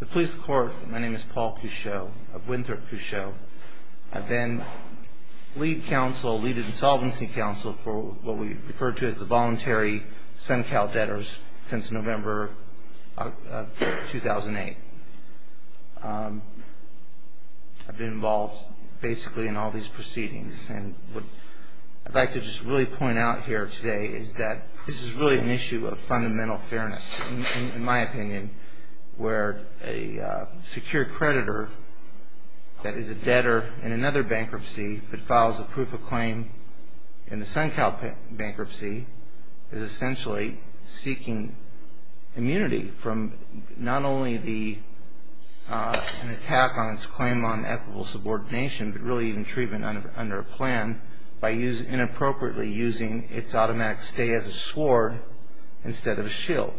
The police court, my name is Paul Couchot of Winthrop Couchot, I've been lead counsel, lead insolvency counsel for what we refer to as the voluntary SunCal debtors since November 2008. I've been involved basically in all these proceedings and what I'd like to just really point out here today is that this is really an issue of fundamental fairness in my opinion where a secure creditor that is a debtor in another bankruptcy that files a proof of claim in the SunCal bankruptcy is essentially seeking immunity from not only the attack on its claim on equitable subordination but really even treatment under a plan by using its automatic stay as a sword instead of a shield.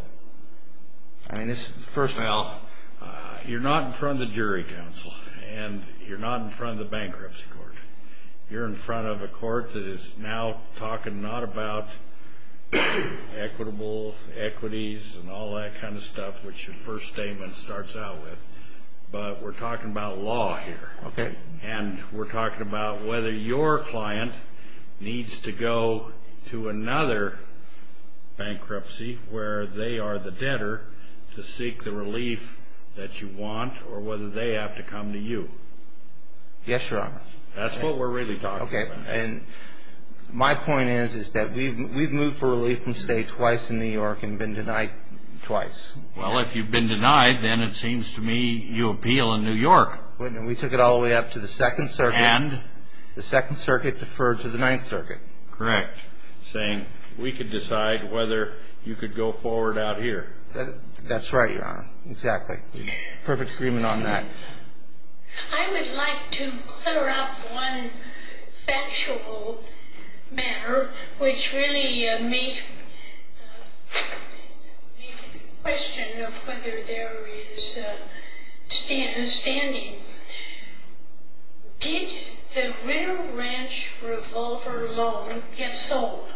Well, you're not in front of the jury counsel and you're not in front of the bankruptcy court. You're in front of a court that is now talking not about equitable equities and all that kind of stuff which your first statement starts out with but we're talking about law here. And we're talking about whether your client needs to go to another bankruptcy where they are the debtor to seek the relief that you want or whether they have to come to you. Yes, your honor. That's what we're really talking about. Okay, and my point is that we've moved for relief from stay twice in New York and been denied twice. Well, if you've been denied then it seems to me you appeal in New York. We took it all the way up to the Second Circuit and the Second Circuit deferred to the Ninth Circuit. Correct. Saying we could decide whether you could go forward out here. That's right, your honor. Exactly. Perfect agreement on that. I would like to clear up one factual matter which really made the question of whether there is a standing. Did the Ritter Ranch Revolver loan get sold?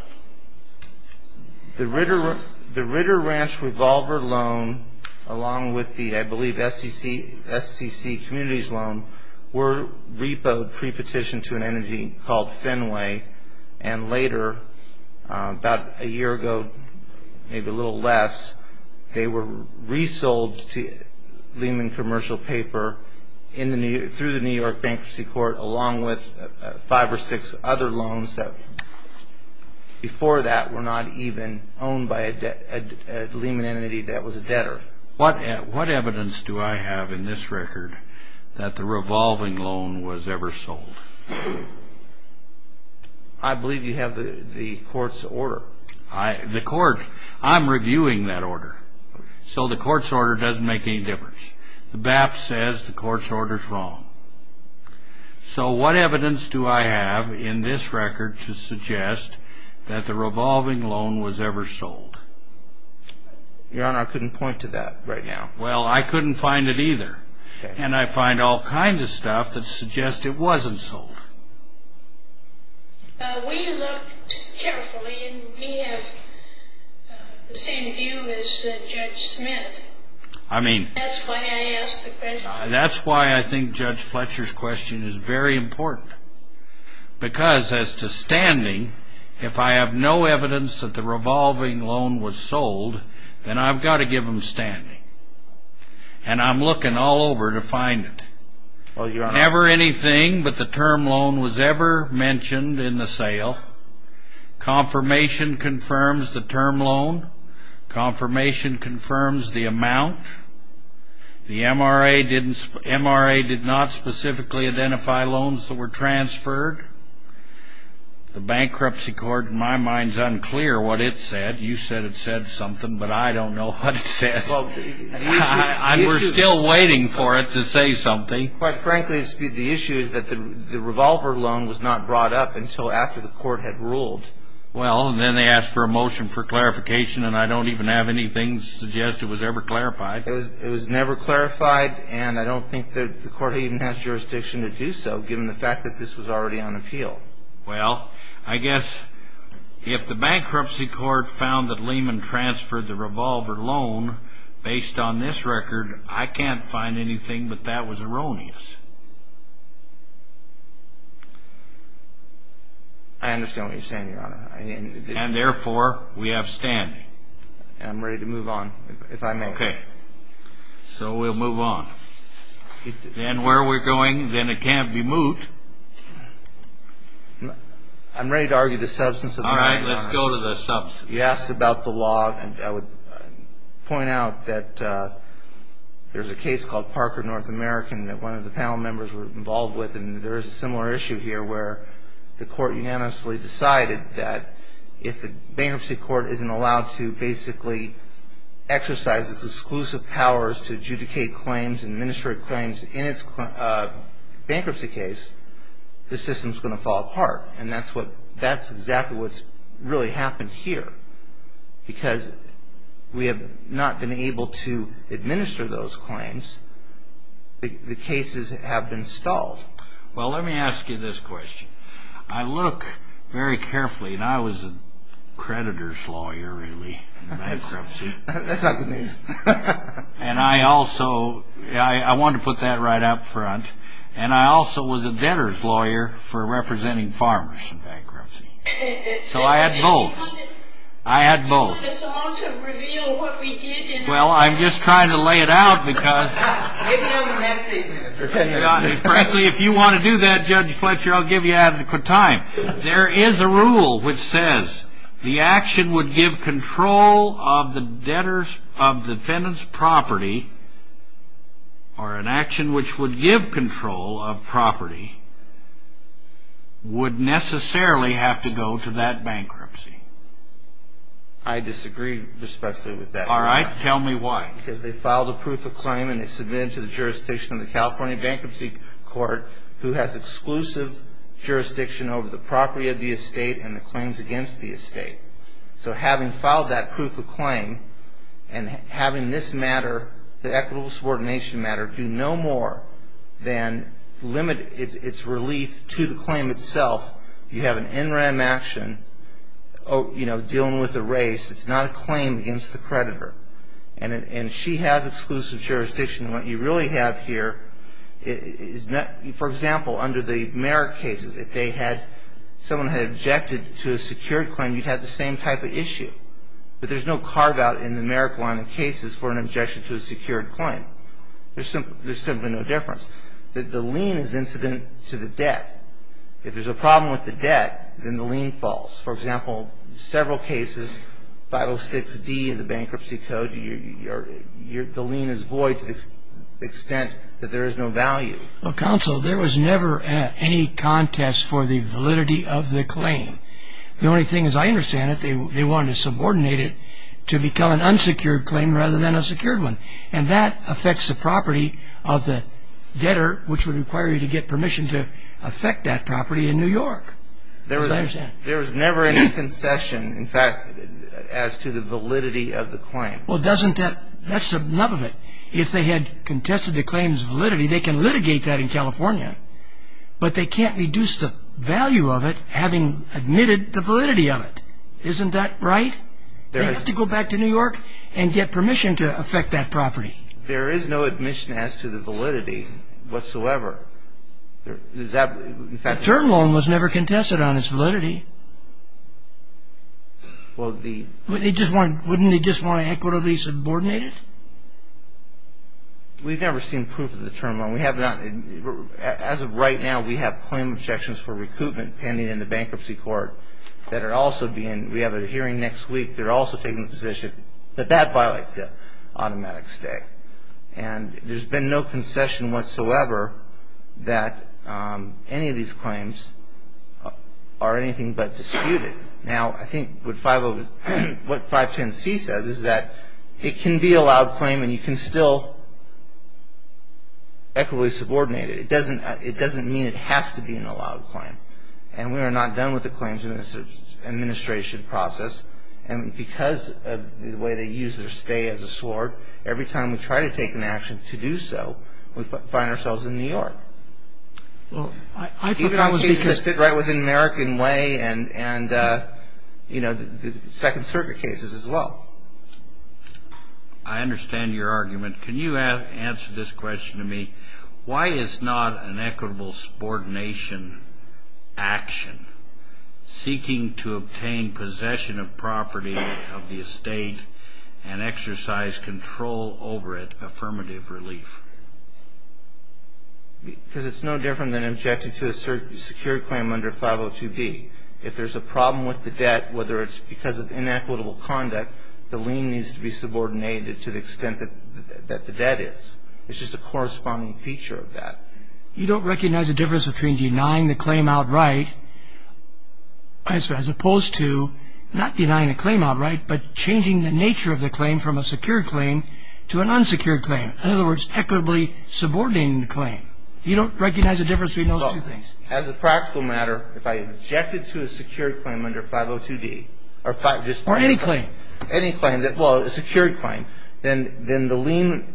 The Ritter Ranch Revolver loan along with the, I believe, SCC Communities loan were repoed pre-petitioned to an entity called Fenway and later about a year ago, maybe a year ago, were resold to Lehman Commercial Paper through the New York Bankruptcy Court along with five or six other loans that before that were not even owned by a Lehman entity that was a debtor. What evidence do I have in this record that the revolving loan was ever sold? I believe you have the court's order. The court, I'm reviewing that order. So the court's order doesn't make any difference. The BAP says the court's order is wrong. So what evidence do I have in this record to suggest that the revolving loan was ever sold? Your honor, I couldn't point to that right now. Well, I couldn't find it either. And I find all kinds of stuff that suggest it wasn't sold. We looked carefully and we have the same view as Judge Smith. I mean, that's why I think Judge Fletcher's question is very important because as to standing, if I have no evidence that the revolving loan was sold, then I've got to give him standing. And I'm looking all over to find it. Never anything but the term loan was ever mentioned in the sale. Confirmation confirms the term loan. Confirmation confirms the amount. The MRA did not specifically identify loans that were transferred. The bankruptcy court, in my mind, is unclear what it said. You said it said something, but I don't know what it said. We're still waiting for it to say something. Quite frankly, the issue is that the revolver loan was not brought up until after the court had ruled. Well, and then they asked for a motion for clarification, and I don't even have anything suggest it was ever clarified. It was never clarified, and I don't think that the court even has jurisdiction to do so, given the fact that this was already on appeal. Well, I guess if the bankruptcy court found that Lehman transferred the revolver loan based on this record, I can't find anything, but that was erroneous. I understand what you're saying, Your Honor. And therefore, we have standing. I'm ready to move on, if I may. Okay, so we'll move on. And where are we going? Then it can't be moot. I'm ready to argue the substance of the matter. All right, let's go to the substance. You asked about the law, and I would point out that there's a case called Parker North American that one of the panel members were involved with, and there is a similar issue here where the court unanimously decided that if the bankruptcy court isn't allowed to basically exercise its exclusive powers to adjudicate claims and administrate claims in its bankruptcy case, the system's going to fall apart. And that's exactly what's really happened here. Because we have not been able to administer those claims, the cases have been stalled. Well, let me ask you this question. I look very carefully, and I was a creditor's lawyer, really, in the bankruptcy. That's not good news. And I also, I want to put that right up front, and I also was a debtor's lawyer for representing farmers in bankruptcy. So I had both. I had both. Do you want a song to reveal what we did in the bankruptcy? Well, I'm just trying to lay it out because... Give them a message, Mr. Kennedy. Frankly, if you want to do that, Judge Fletcher, I'll give you adequate time. There is a rule which says the action would give control of the debtor's, of the defendant's property, or an action which would give control of property, would necessarily have to go to that bankruptcy. I disagree respectfully with that. All right. Tell me why. Because they filed a proof of claim, and they submitted it to the jurisdiction of the California Bankruptcy Court, who has exclusive jurisdiction over the property of the estate and the claims against the estate. So having filed that proof of claim, and having this matter, the equitable subordination matter, do no more than limit its relief to the claim itself, you have an NRAM action dealing with a race. It's not a claim against the creditor, and she has exclusive jurisdiction. And what you really have here is, for example, under the Merrick cases, if they had, someone had objected to a secured claim, you'd have the same type of issue, but there's no carve-out in the Merrick line of cases for an objection to a secured claim. There's simply no difference. The lien is incident to the debt. If there's a problem with the debt, then the lien falls. For example, several cases, 506D of the Bankruptcy Code, the lien is void to the extent that there is no value. Well, counsel, there was never any contest for the validity of the claim. The only thing is, I understand that they wanted to subordinate it to become an unsecured claim rather than a secured one. And that affects the property of the debtor, which would require you to get permission to affect that property in New York, as I understand. There was never any concession, in fact, as to the validity of the claim. Well, doesn't that, that's enough of it. If they had contested the claim's validity, they can litigate that in California, but they can't reduce the value of it, having admitted the validity of it, isn't that right? They have to go back to New York and get permission to affect that property. There is no admission as to the validity whatsoever. The term loan was never contested on its validity. Well, they just want, wouldn't they just want to equitably subordinate it? We've never seen proof of the term loan. We have not, as of right now, we have claim objections for recoupment pending in the Bankruptcy Court that are also being, we have a hearing next week. They're also taking the position that that violates the automatic stay. And there's been no concession whatsoever that any of these claims are anything but disputed. Now, I think what 510C says is that it can be a loud claim and you can still equitably subordinate it. It doesn't, it doesn't mean it has to be an allowed claim. And we are not done with the claims in this administration process. And because of the way they use their stay as a sword, every time we try to take an action to do so, we find ourselves in New York. Well, I thought that was because. Even on cases that fit right within American Way and, you know, the Second Circuit cases as well. I understand your argument. Can you answer this question to me? Why is not an equitable subordination action seeking to obtain possession of property of the estate and exercise control over it, affirmative relief? Because it's no different than objecting to a secure claim under 502B. If there's a problem with the debt, whether it's because of inequitable conduct, the lien needs to be subordinated to the extent that the debt is. It's just a corresponding feature of that. You don't recognize the difference between denying the claim outright as opposed to not denying a claim outright, but changing the nature of the claim from a secured claim to an unsecured claim. In other words, equitably subordinating the claim. You don't recognize the difference between those two things. As a practical matter, if I objected to a secured claim under 502B or just any claim, well, a secured claim, then the lien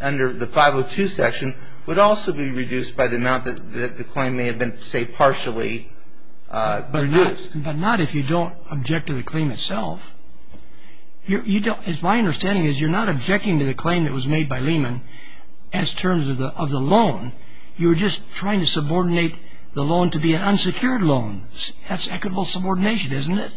under the 502 section would also be reduced by the amount that the claim may have been, say, partially reduced. But not if you don't object to the claim itself. My understanding is you're not objecting to the claim that was made by Lehman as terms of the loan. You were just trying to subordinate the loan to be an unsecured loan. That's equitable subordination, isn't it?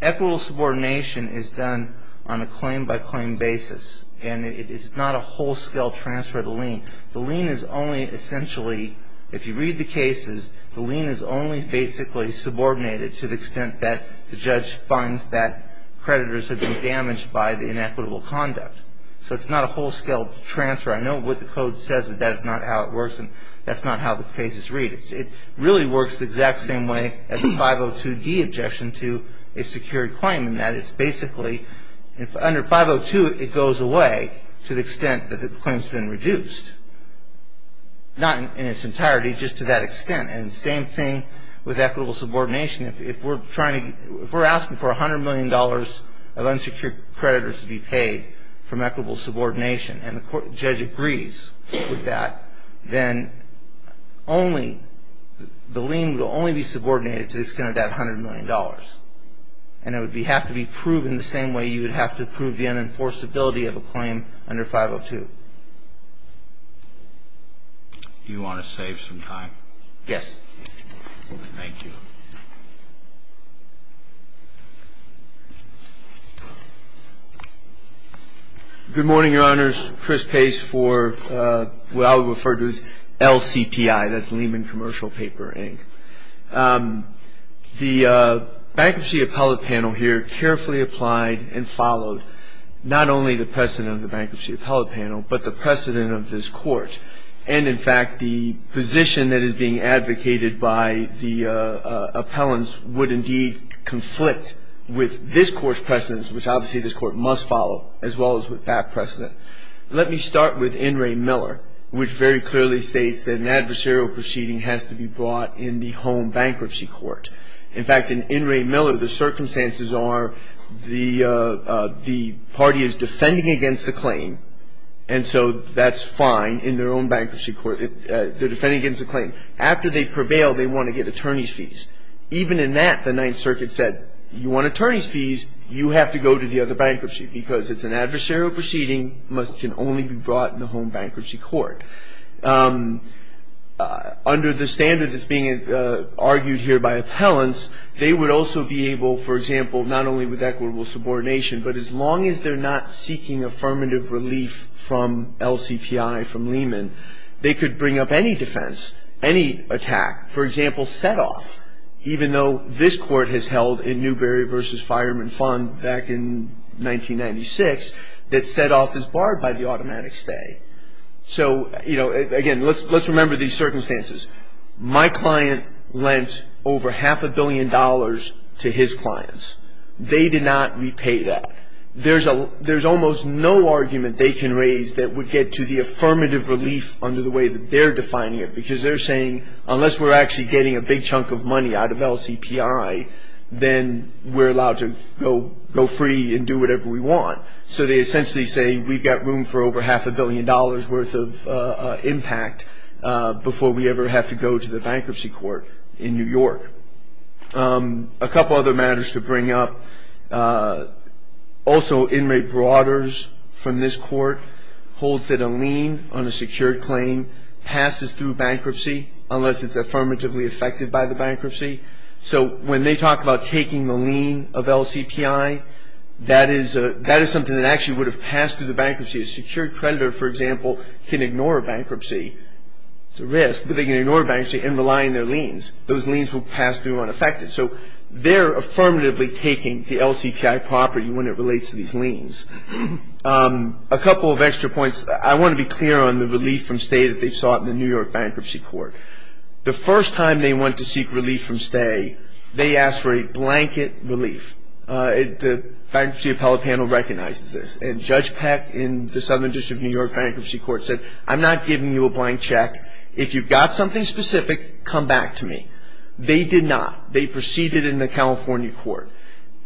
Equitable subordination is done on a claim-by-claim basis, and it's not a whole-scale transfer of the lien. The lien is only essentially, if you read the cases, the lien is only basically subordinated to the extent that the judge finds that creditors have been damaged by the inequitable conduct. So it's not a whole-scale transfer. I know what the code says, but that's not how it works, and that's not how the cases read. It really works the exact same way as a 502d objection to a secured claim, in that it's basically, under 502, it goes away to the extent that the claim's been reduced, not in its entirety, just to that extent. And the same thing with equitable subordination. If we're asking for $100 million of unsecured creditors to be paid from equitable subordination, and the judge agrees with that, then only, the lien will only be subordinated to the extent of that $100 million, and it would have to be proven the same way you would have to prove the unenforceability of a claim under 502. Do you want to save some time? Yes. Thank you. Good morning, Your Honors. Chris Pace for what I would refer to as LCPI. That's Lehman Commercial Paper, Inc. The Bankruptcy Appellate Panel here carefully applied and followed not only the precedent of the Bankruptcy Appellate Panel, but the precedent of this Court, and in fact, the position that is being advocated by the appellants would indeed conflict with this Court's precedent, which obviously this Court must follow, as well as with that precedent. Let me start with In re Miller, which very clearly states that an adversarial proceeding has to be brought in the home bankruptcy court. In fact, in In re Miller, the circumstances are the party is defending against the claim. After they prevail, they want to get attorney's fees. Even in that, the Ninth Circuit said, you want attorney's fees, you have to go to the other bankruptcy, because it's an adversarial proceeding, it can only be brought in the home bankruptcy court. Under the standard that's being argued here by appellants, they would also be able, for example, not only with equitable subordination, but as long as they're not seeking affirmative relief from LCPI, from Lehman, they could bring up any defense, any attack, for example, set-off, even though this Court has held in Newberry v. Fireman Fund back in 1996, that set-off is barred by the automatic stay. So, you know, again, let's remember these circumstances. My client lent over half a billion dollars to his clients. They did not repay that. There's almost no argument they can raise that would get to the affirmative relief under the way that they're defining it, because they're saying, unless we're actually getting a big chunk of money out of LCPI, then we're allowed to go free and do whatever we want. So they essentially say, we've got room for over half a billion dollars worth of impact before we ever have to go to the bankruptcy court in New York. A couple other matters to bring up. Also, Inmate Broaders from this Court holds that a lien on a secured claim passes through bankruptcy unless it's affirmatively affected by the bankruptcy. So when they talk about taking the lien of LCPI, that is something that actually would have passed through the bankruptcy. A secured creditor, for example, can ignore bankruptcy. It's a risk, but they can ignore bankruptcy and rely on their liens. Those liens will pass through unaffected. So they're affirmatively taking the LCPI property when it relates to these liens. A couple of extra points. I want to be clear on the relief from stay that they sought in the New York Bankruptcy Court. The first time they went to seek relief from stay, they asked for a blanket relief. The Bankruptcy Appellate Panel recognizes this, and Judge Peck in the Southern District of New York Bankruptcy Court said, I'm not giving you a blank check. If you've got something specific, come back to me. They did not. They proceeded in the California court.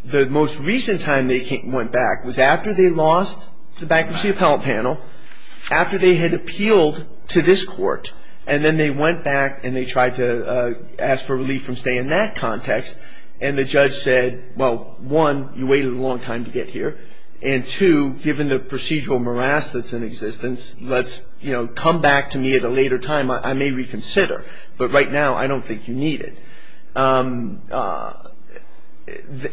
The most recent time they went back was after they lost the Bankruptcy Appellate Panel, after they had appealed to this court, and then they went back and they tried to ask for relief from stay in that context, and the judge said, well, one, you waited a long time to get here, and two, given the procedural morass that's in existence, let's come back to me at a later time. I may reconsider, but right now, I don't think you need it. And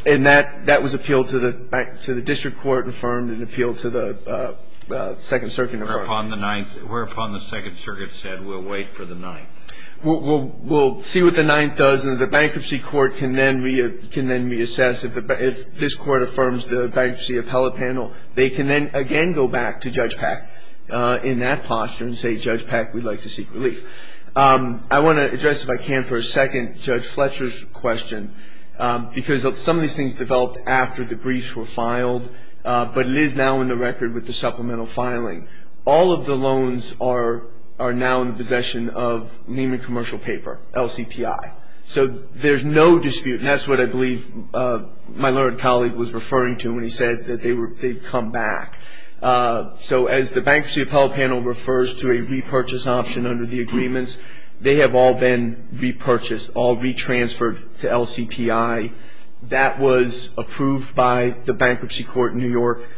that was appealed to the District Court and affirmed and appealed to the Second Circuit and affirmed. Whereupon the Ninth, whereupon the Second Circuit said, we'll wait for the Ninth. We'll see what the Ninth does, and the Bankruptcy Court can then reassess if this court affirms the Bankruptcy Appellate Panel, they can then again go back to Judge Peck in that posture and say, Judge Peck, we'd like to seek relief. I want to address, if I can, for a second, Judge Fletcher's question, because some of these things developed after the briefs were filed, but it is now in the record with the supplemental filing. All of the loans are now in the possession of Neiman Commercial Paper, LCPI. So there's no dispute, and that's what I believe my learned colleague was referring to when he said that they'd come back. So as the Bankruptcy Appellate Panel refers to a repurchase option under the agreements, they have all been repurchased, all retransferred to LCPI. That was approved by the Bankruptcy Court in New York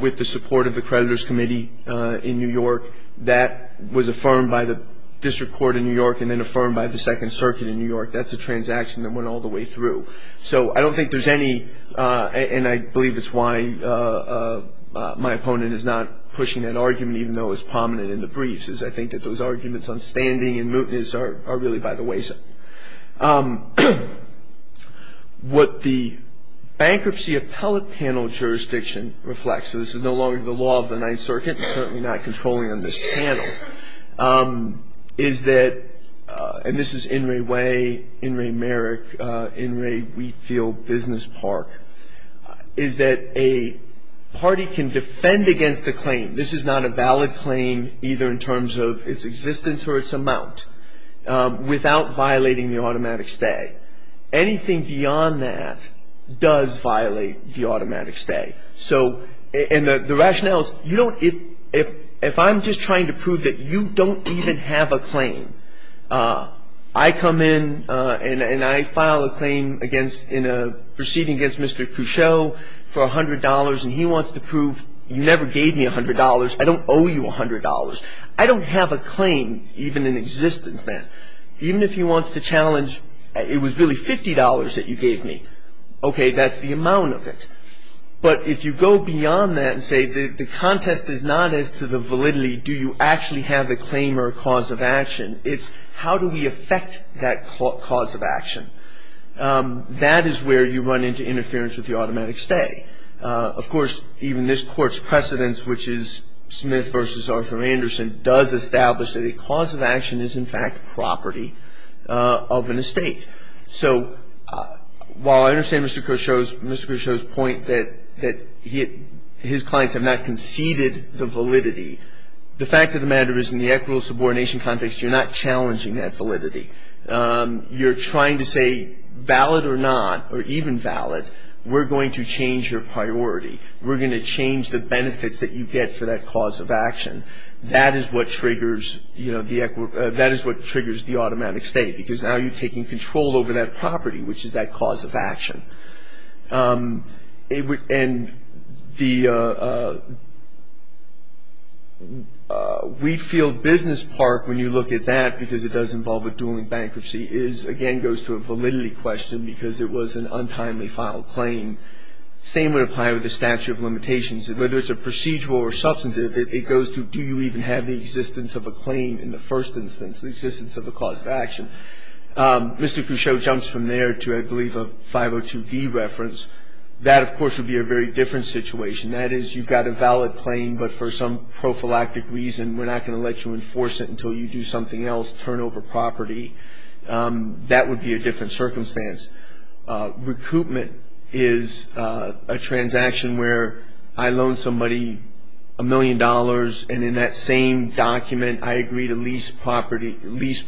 with the support of the Creditors Committee in New York. That was affirmed by the District Court in New York and then affirmed by the Second Circuit in New York. That's a transaction that went all the way through. So I don't think there's any, and I believe that's why my opponent is not pushing that argument even though it's prominent in the briefs, is I think that those arguments on standing and mootness are really by the wayside. What the Bankruptcy Appellate Panel jurisdiction reflects, so this is no longer the law of the Ninth Circuit, certainly not controlling on this panel, is that, and this is In re Wheatfield Business Park, is that a party can defend against a claim, this is not a valid claim either in terms of its existence or its amount, without violating the automatic stay. Anything beyond that does violate the automatic stay. So and the rationale is, you know, if I'm just trying to prove that you don't even have a claim, I come in and I file a claim against, in a proceeding against Mr. Cusheau for $100 and he wants to prove you never gave me $100, I don't owe you $100, I don't have a claim even in existence then. Even if he wants to challenge it was really $50 that you gave me, okay, that's the amount of it. But if you go beyond that and say the contest is not as to the validity, do you actually have the claim or cause of action, it's how do we affect that cause of action. That is where you run into interference with the automatic stay. Of course, even this Court's precedence, which is Smith v. Arthur Anderson, does establish that a cause of action is in fact property of an estate. So while I understand Mr. Cusheau's point that his clients have not conceded the validity, the fact of the matter is in the equitable subordination context, you're not challenging that validity. You're trying to say valid or not or even valid, we're going to change your priority. We're going to change the benefits that you get for that cause of action. That is what triggers the automatic stay because now you're taking control over that property, which is that cause of action. And the Wheatfield Business Park, when you look at that, because it does involve a dueling bankruptcy, again goes to a validity question because it was an untimely filed claim. Same would apply with the statute of limitations. Whether it's a procedural or substantive, it goes to do you even have the existence of a claim in the first instance, the existence of a cause of action. Mr. Cusheau jumps from there to I believe a 502D reference. That of course would be a very different situation. That is you've got a valid claim but for some prophylactic reason we're not going to let you enforce it until you do something else, turn over property. That would be a different circumstance. Recoupment is a transaction where I loan somebody a million dollars and in that same document I agree to lease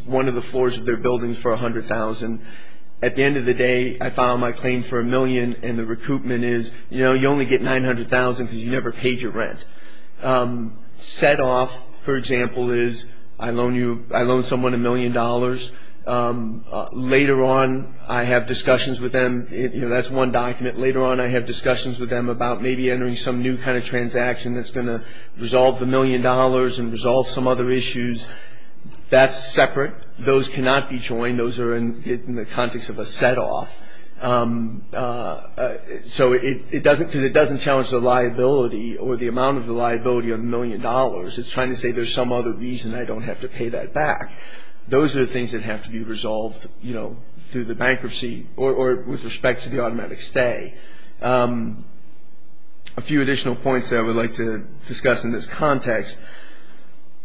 one of the floors of their building for $100,000. At the end of the day I file my claim for a million and the recoupment is you only get $900,000 because you never paid your rent. Set off, for example, is I loan someone a million dollars. Later on I have discussions with them, that's one document, later on I have discussions with them about maybe entering some new kind of transaction that's going to resolve the issues. That's separate. Those cannot be joined. Those are in the context of a set off. So it doesn't, because it doesn't challenge the liability or the amount of the liability of the million dollars. It's trying to say there's some other reason I don't have to pay that back. Those are the things that have to be resolved, you know, through the bankruptcy or with respect to the automatic stay. A few additional points that I would like to discuss in this context.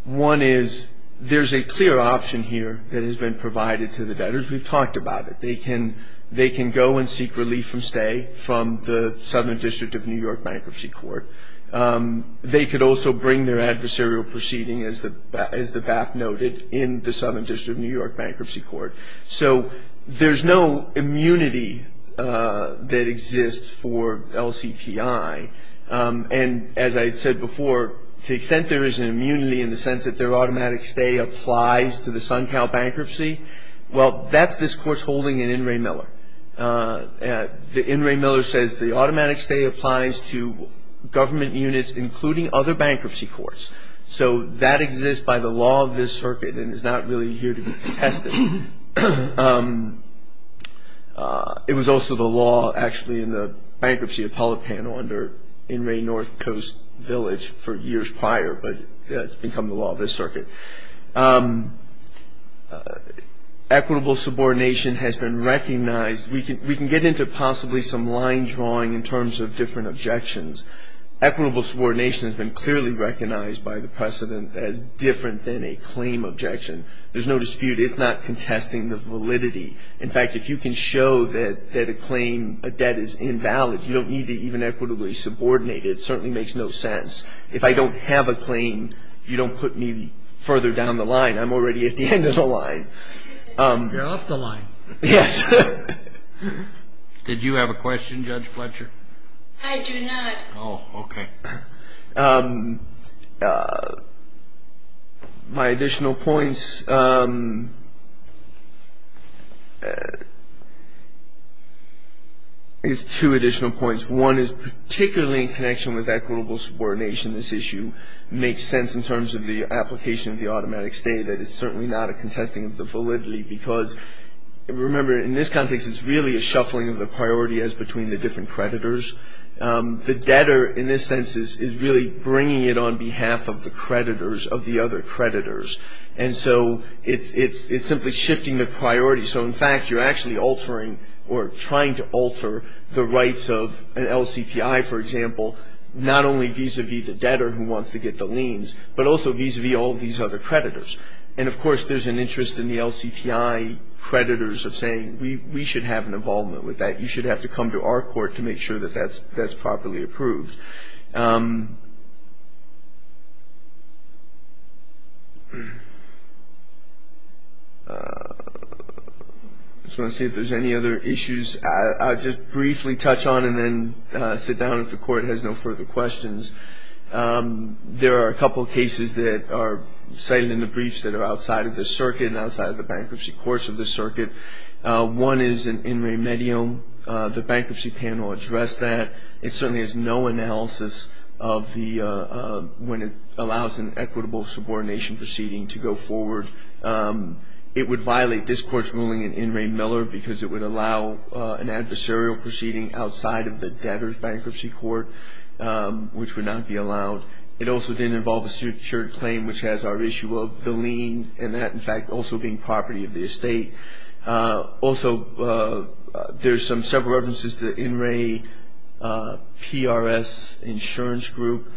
One is there's a clear option here that has been provided to the debtors. We've talked about it. They can go and seek relief from stay from the Southern District of New York Bankruptcy Court. They could also bring their adversarial proceeding, as the BAP noted, in the Southern District of New York Bankruptcy Court. So there's no immunity that exists for LCPI. And as I said before, to the extent there is an immunity in the sense that their automatic stay applies to the Suncow Bankruptcy, well, that's this Court's holding in In re Miller. The In re Miller says the automatic stay applies to government units, including other bankruptcy courts. So that exists by the law of this circuit and is not really here to be contested. It was also the law, actually, in the bankruptcy appellate panel under In re North Coast Village for years prior, but it's become the law of this circuit. Equitable subordination has been recognized. We can get into possibly some line drawing in terms of different objections. Equitable subordination has been clearly recognized by the precedent as different than a claim objection. There's no dispute. It's not contesting the validity. In fact, if you can show that a claim, a debt is invalid, you don't need to even equitably subordinate it. It certainly makes no sense. If I don't have a claim, you don't put me further down the line. I'm already at the end of the line. You're off the line. Yes. Did you have a question, Judge Fletcher? I do not. Oh, okay. My additional points is two additional points. One is particularly in connection with equitable subordination. This issue makes sense in terms of the application of the automatic stay. That is certainly not a contesting of the validity because, remember, in this context, it's really a shuffling of the priority as between the different creditors. The debtor, in this sense, is really bringing it on behalf of the creditors of the other creditors. And so it's simply shifting the priority. So, in fact, you're actually altering or trying to alter the rights of an LCPI, for example, not only vis-a-vis the debtor who wants to get the liens, but also vis-a-vis all these other creditors. And, of course, there's an interest in the LCPI creditors of saying, we should have an involvement with that. You should have to come to our court to make sure that that's properly approved. I just want to see if there's any other issues. I'll just briefly touch on and then sit down if the court has no further questions. There are a couple of cases that are cited in the briefs that are outside of the circuit One is in In Re Medium. The bankruptcy panel addressed that. It certainly has no analysis of when it allows an equitable subordination proceeding to go forward. It would violate this court's ruling in In Re Miller because it would allow an adversarial proceeding outside of the debtor's bankruptcy court, which would not be allowed. It also didn't involve a secured claim, which has our issue of the lien, and that, in fact, also being property of the estate. Also, there's some several references to the In Re PRS Insurance Group.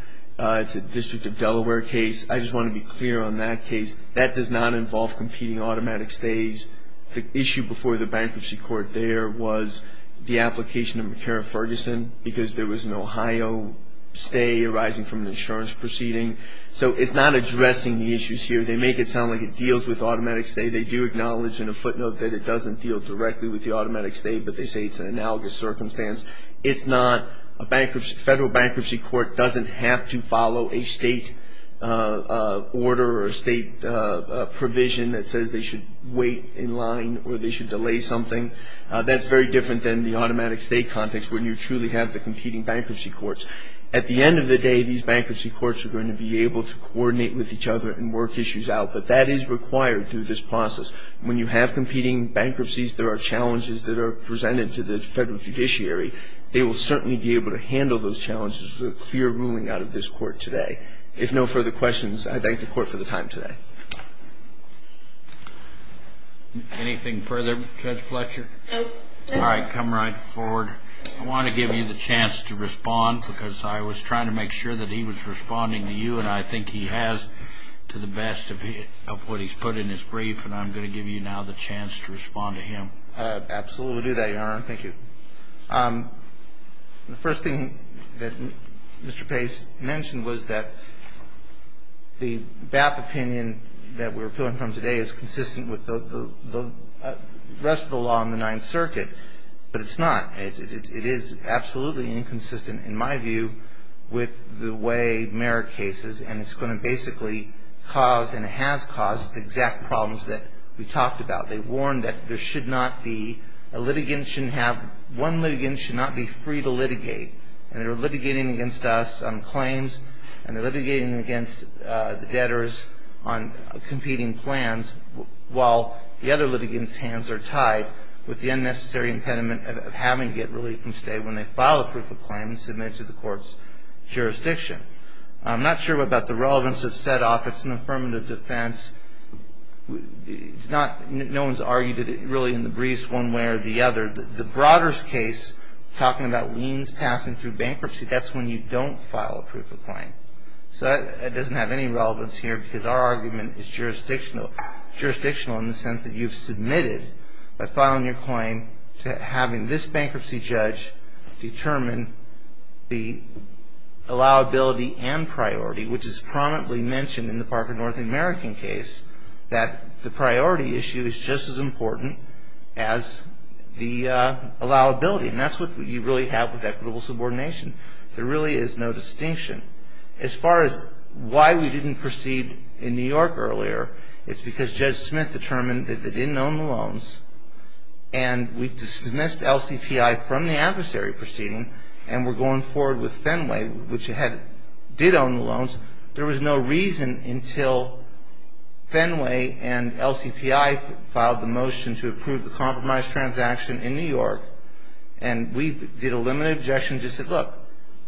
It's a District of Delaware case. I just want to be clear on that case. That does not involve competing automatic stays. The issue before the bankruptcy court there was the application of McCarran-Ferguson because there was an Ohio stay arising from an insurance proceeding. So it's not addressing the issues here. They make it sound like it deals with automatic stay. They do acknowledge in a footnote that it doesn't deal directly with the automatic stay, but they say it's an analogous circumstance. It's not. A federal bankruptcy court doesn't have to follow a state order or a state provision that says they should wait in line or they should delay something. That's very different than the automatic stay context when you truly have the competing bankruptcy courts. At the end of the day, these bankruptcy courts are going to be able to coordinate with each other and work issues out, but that is required through this process. When you have competing bankruptcies, there are challenges that are presented to the federal judiciary. They will certainly be able to handle those challenges with a clear ruling out of this court today. If no further questions, I thank the court for the time today. Anything further, Judge Fletcher? No. All right. Come right forward. I want to give you the chance to respond because I was trying to make sure that he was to the best of what he's put in his brief, and I'm going to give you now the chance to respond to him. Absolutely. We'll do that, Your Honor. Thank you. The first thing that Mr. Pace mentioned was that the BAP opinion that we're appealing from today is consistent with the rest of the law in the Ninth Circuit, but it's not. It is absolutely inconsistent, in my view, with the way Merrick cases, and it's going to basically cause, and it has caused, the exact problems that we talked about. They warned that one litigant should not be free to litigate, and they're litigating against us on claims, and they're litigating against the debtors on competing plans, while the other litigants' hands are tied with the unnecessary impediment of having to get relief from state when they file a proof of claim and submit it to the court's jurisdiction. I'm not sure about the relevance of set-off. It's an affirmative defense. No one's argued it really in the briefs one way or the other. The Broders case, talking about liens passing through bankruptcy, that's when you don't file a proof of claim, so that doesn't have any relevance here because our argument is jurisdictional, jurisdictional in the sense that you've submitted by filing your claim to having this bankruptcy judge determine the allowability and priority, which is prominently mentioned in the Parker North American case, that the priority issue is just as important as the allowability, and that's what you really have with equitable subordination. There really is no distinction. As far as why we didn't proceed in New York earlier, it's because Judge Smith determined that they didn't own the loans, and we dismissed LCPI from the adversary proceeding, and we're going forward with Fenway, which did own the loans. There was no reason until Fenway and LCPI filed the motion to approve the compromise transaction in New York, and we did a limited objection and just said, look,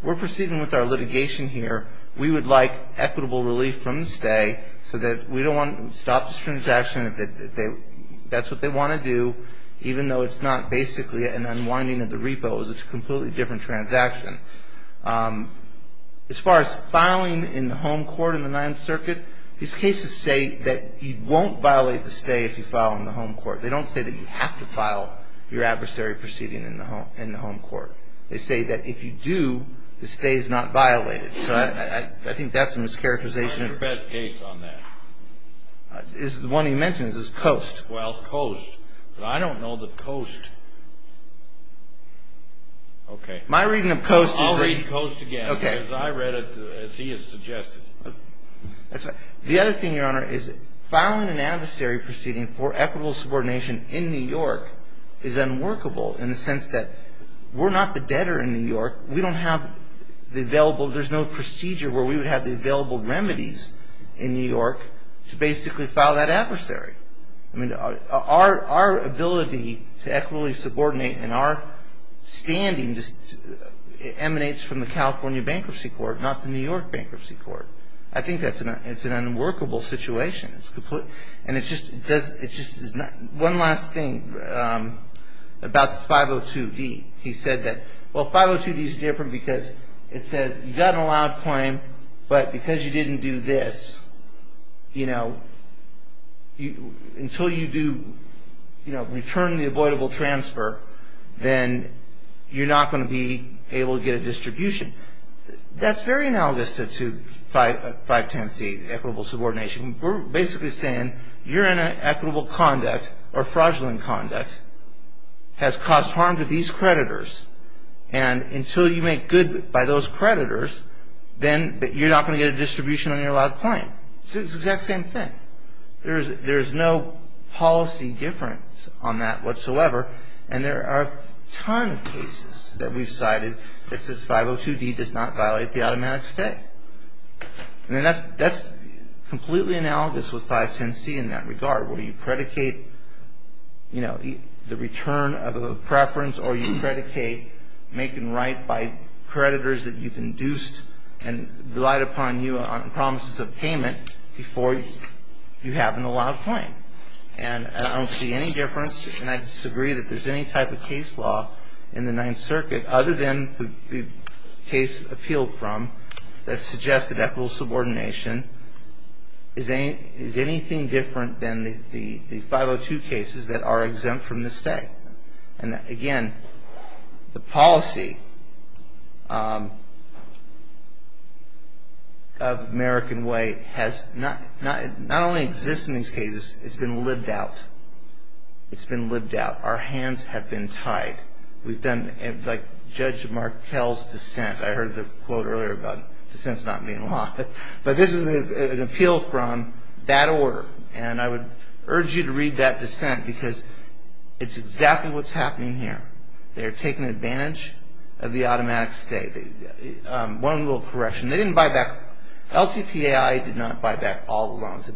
we're proceeding with our litigation here. We would like equitable relief from the stay so that we don't want to stop this transaction if that's what they want to do, even though it's not basically an unwinding of the repos. It's a completely different transaction. As far as filing in the home court in the Ninth Circuit, these cases say that you won't violate the stay if you file in the home court. They don't say that you have to file your adversary proceeding in the home court. They say that if you do, the stay is not violated, so I think that's a mischaracterization. What's your best case on that? The one he mentions is Coast. Well, Coast. But I don't know that Coast. Okay. My reading of Coast is that... I'll read Coast again. Okay. Because I read it as he has suggested. That's all right. The other thing, Your Honor, is filing an adversary proceeding for equitable subordination in New York is unworkable in the sense that we're not the debtor in New York. We don't have the available – there's no procedure where we would have the available remedies in New York to basically file that adversary. I mean, our ability to equitably subordinate in our standing just emanates from the California Bankruptcy Court, not the New York Bankruptcy Court. I think that's an unworkable situation. And it just is not – one last thing about the 502D. He said that, well, 502D is different because it says you got an allowed claim, but because you didn't do this, you know, until you do – you know, return the avoidable transfer, then you're not going to be able to get a distribution. That's very analogous to 510C, equitable subordination. We're basically saying you're in an equitable conduct or fraudulent conduct, has caused harm to these creditors, and until you make good by those creditors, then – but you're not going to get a distribution on your allowed claim. It's the exact same thing. There's no policy difference on that whatsoever. And there are a ton of cases that we've cited that says 502D does not violate the automatic stay. And that's completely analogous with 510C in that regard, where you predicate, you know, the return of a preference or you predicate make and might by creditors that you've induced and relied upon you on promises of payment before you have an allowed claim. And I don't see any difference, and I disagree that there's any type of case law in the Ninth Circuit, other than the case appealed from, that suggests that equitable subordination is anything different than the 502 cases that are exempt from the stay. And again, the policy of American Way has – not only exists in these cases, it's been lived out. It's been lived out. Our hands have been tied. We've done – like Judge Markell's dissent. I heard the quote earlier about dissents not being law. But this is an appeal from that order, and I would urge you to read that because that's exactly what's happening here. They're taking advantage of the automatic stay. One little correction. They didn't buy back – LCPAI did not buy back all the loans.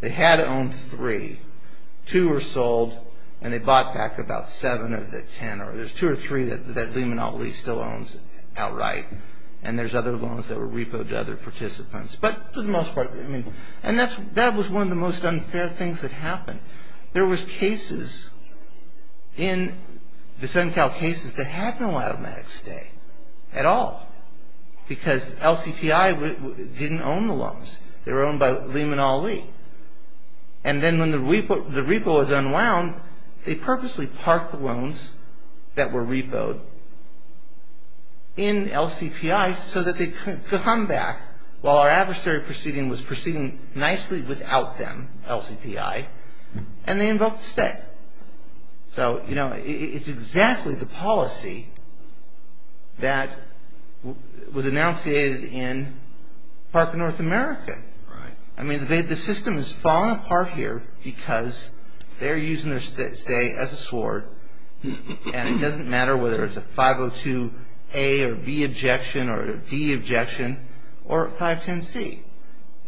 They had owned three. Two were sold, and they bought back about seven of the ten. There's two or three that Lee Monopoly still owns outright, and there's other loans that were repoed to other participants. But for the most part – and that was one of the most unfair things that happened. There was cases in the SunCal cases that had no automatic stay at all because LCPAI didn't own the loans. They were owned by Lee Monopoly. And then when the repo was unwound, they purposely parked the loans that were repoed in LCPAI so that they could come back while our adversary proceeding was proceeding nicely without them, LCPAI, and they invoked the stay. So, you know, it's exactly the policy that was enunciated in Park in North America. I mean, the system is falling apart here because they're using their stay as a sword, and it doesn't matter whether it's a 502A or B objection or a D objection or a 510C.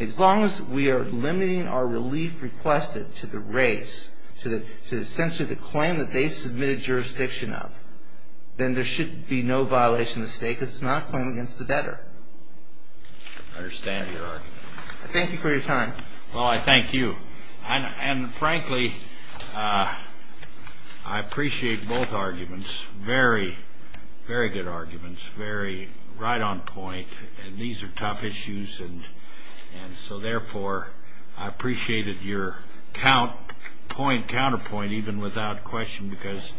As long as we are limiting our relief requested to the race, to essentially the claim that they submitted jurisdiction of, then there should be no violation of stay because it's not a claim against the debtor. I understand your argument. Thank you for your time. Well, I thank you. And frankly, I appreciate both arguments, very, very good arguments, very right on point. And these are tough issues, and so therefore, I appreciated your counterpoint even without question because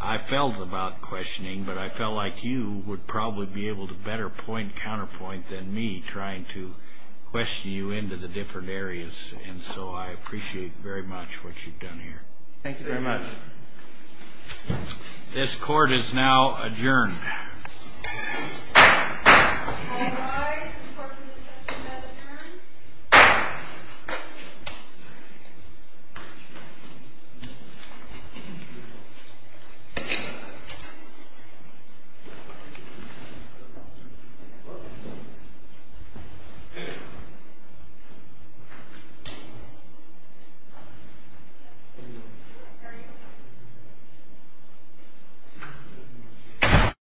I felt about questioning, but I felt like you would probably be able to better point counterpoint than me trying to question you into the different areas. And so I appreciate very much what you've done here. Thank you very much. This court is now adjourned. All rise. This court is now adjourned.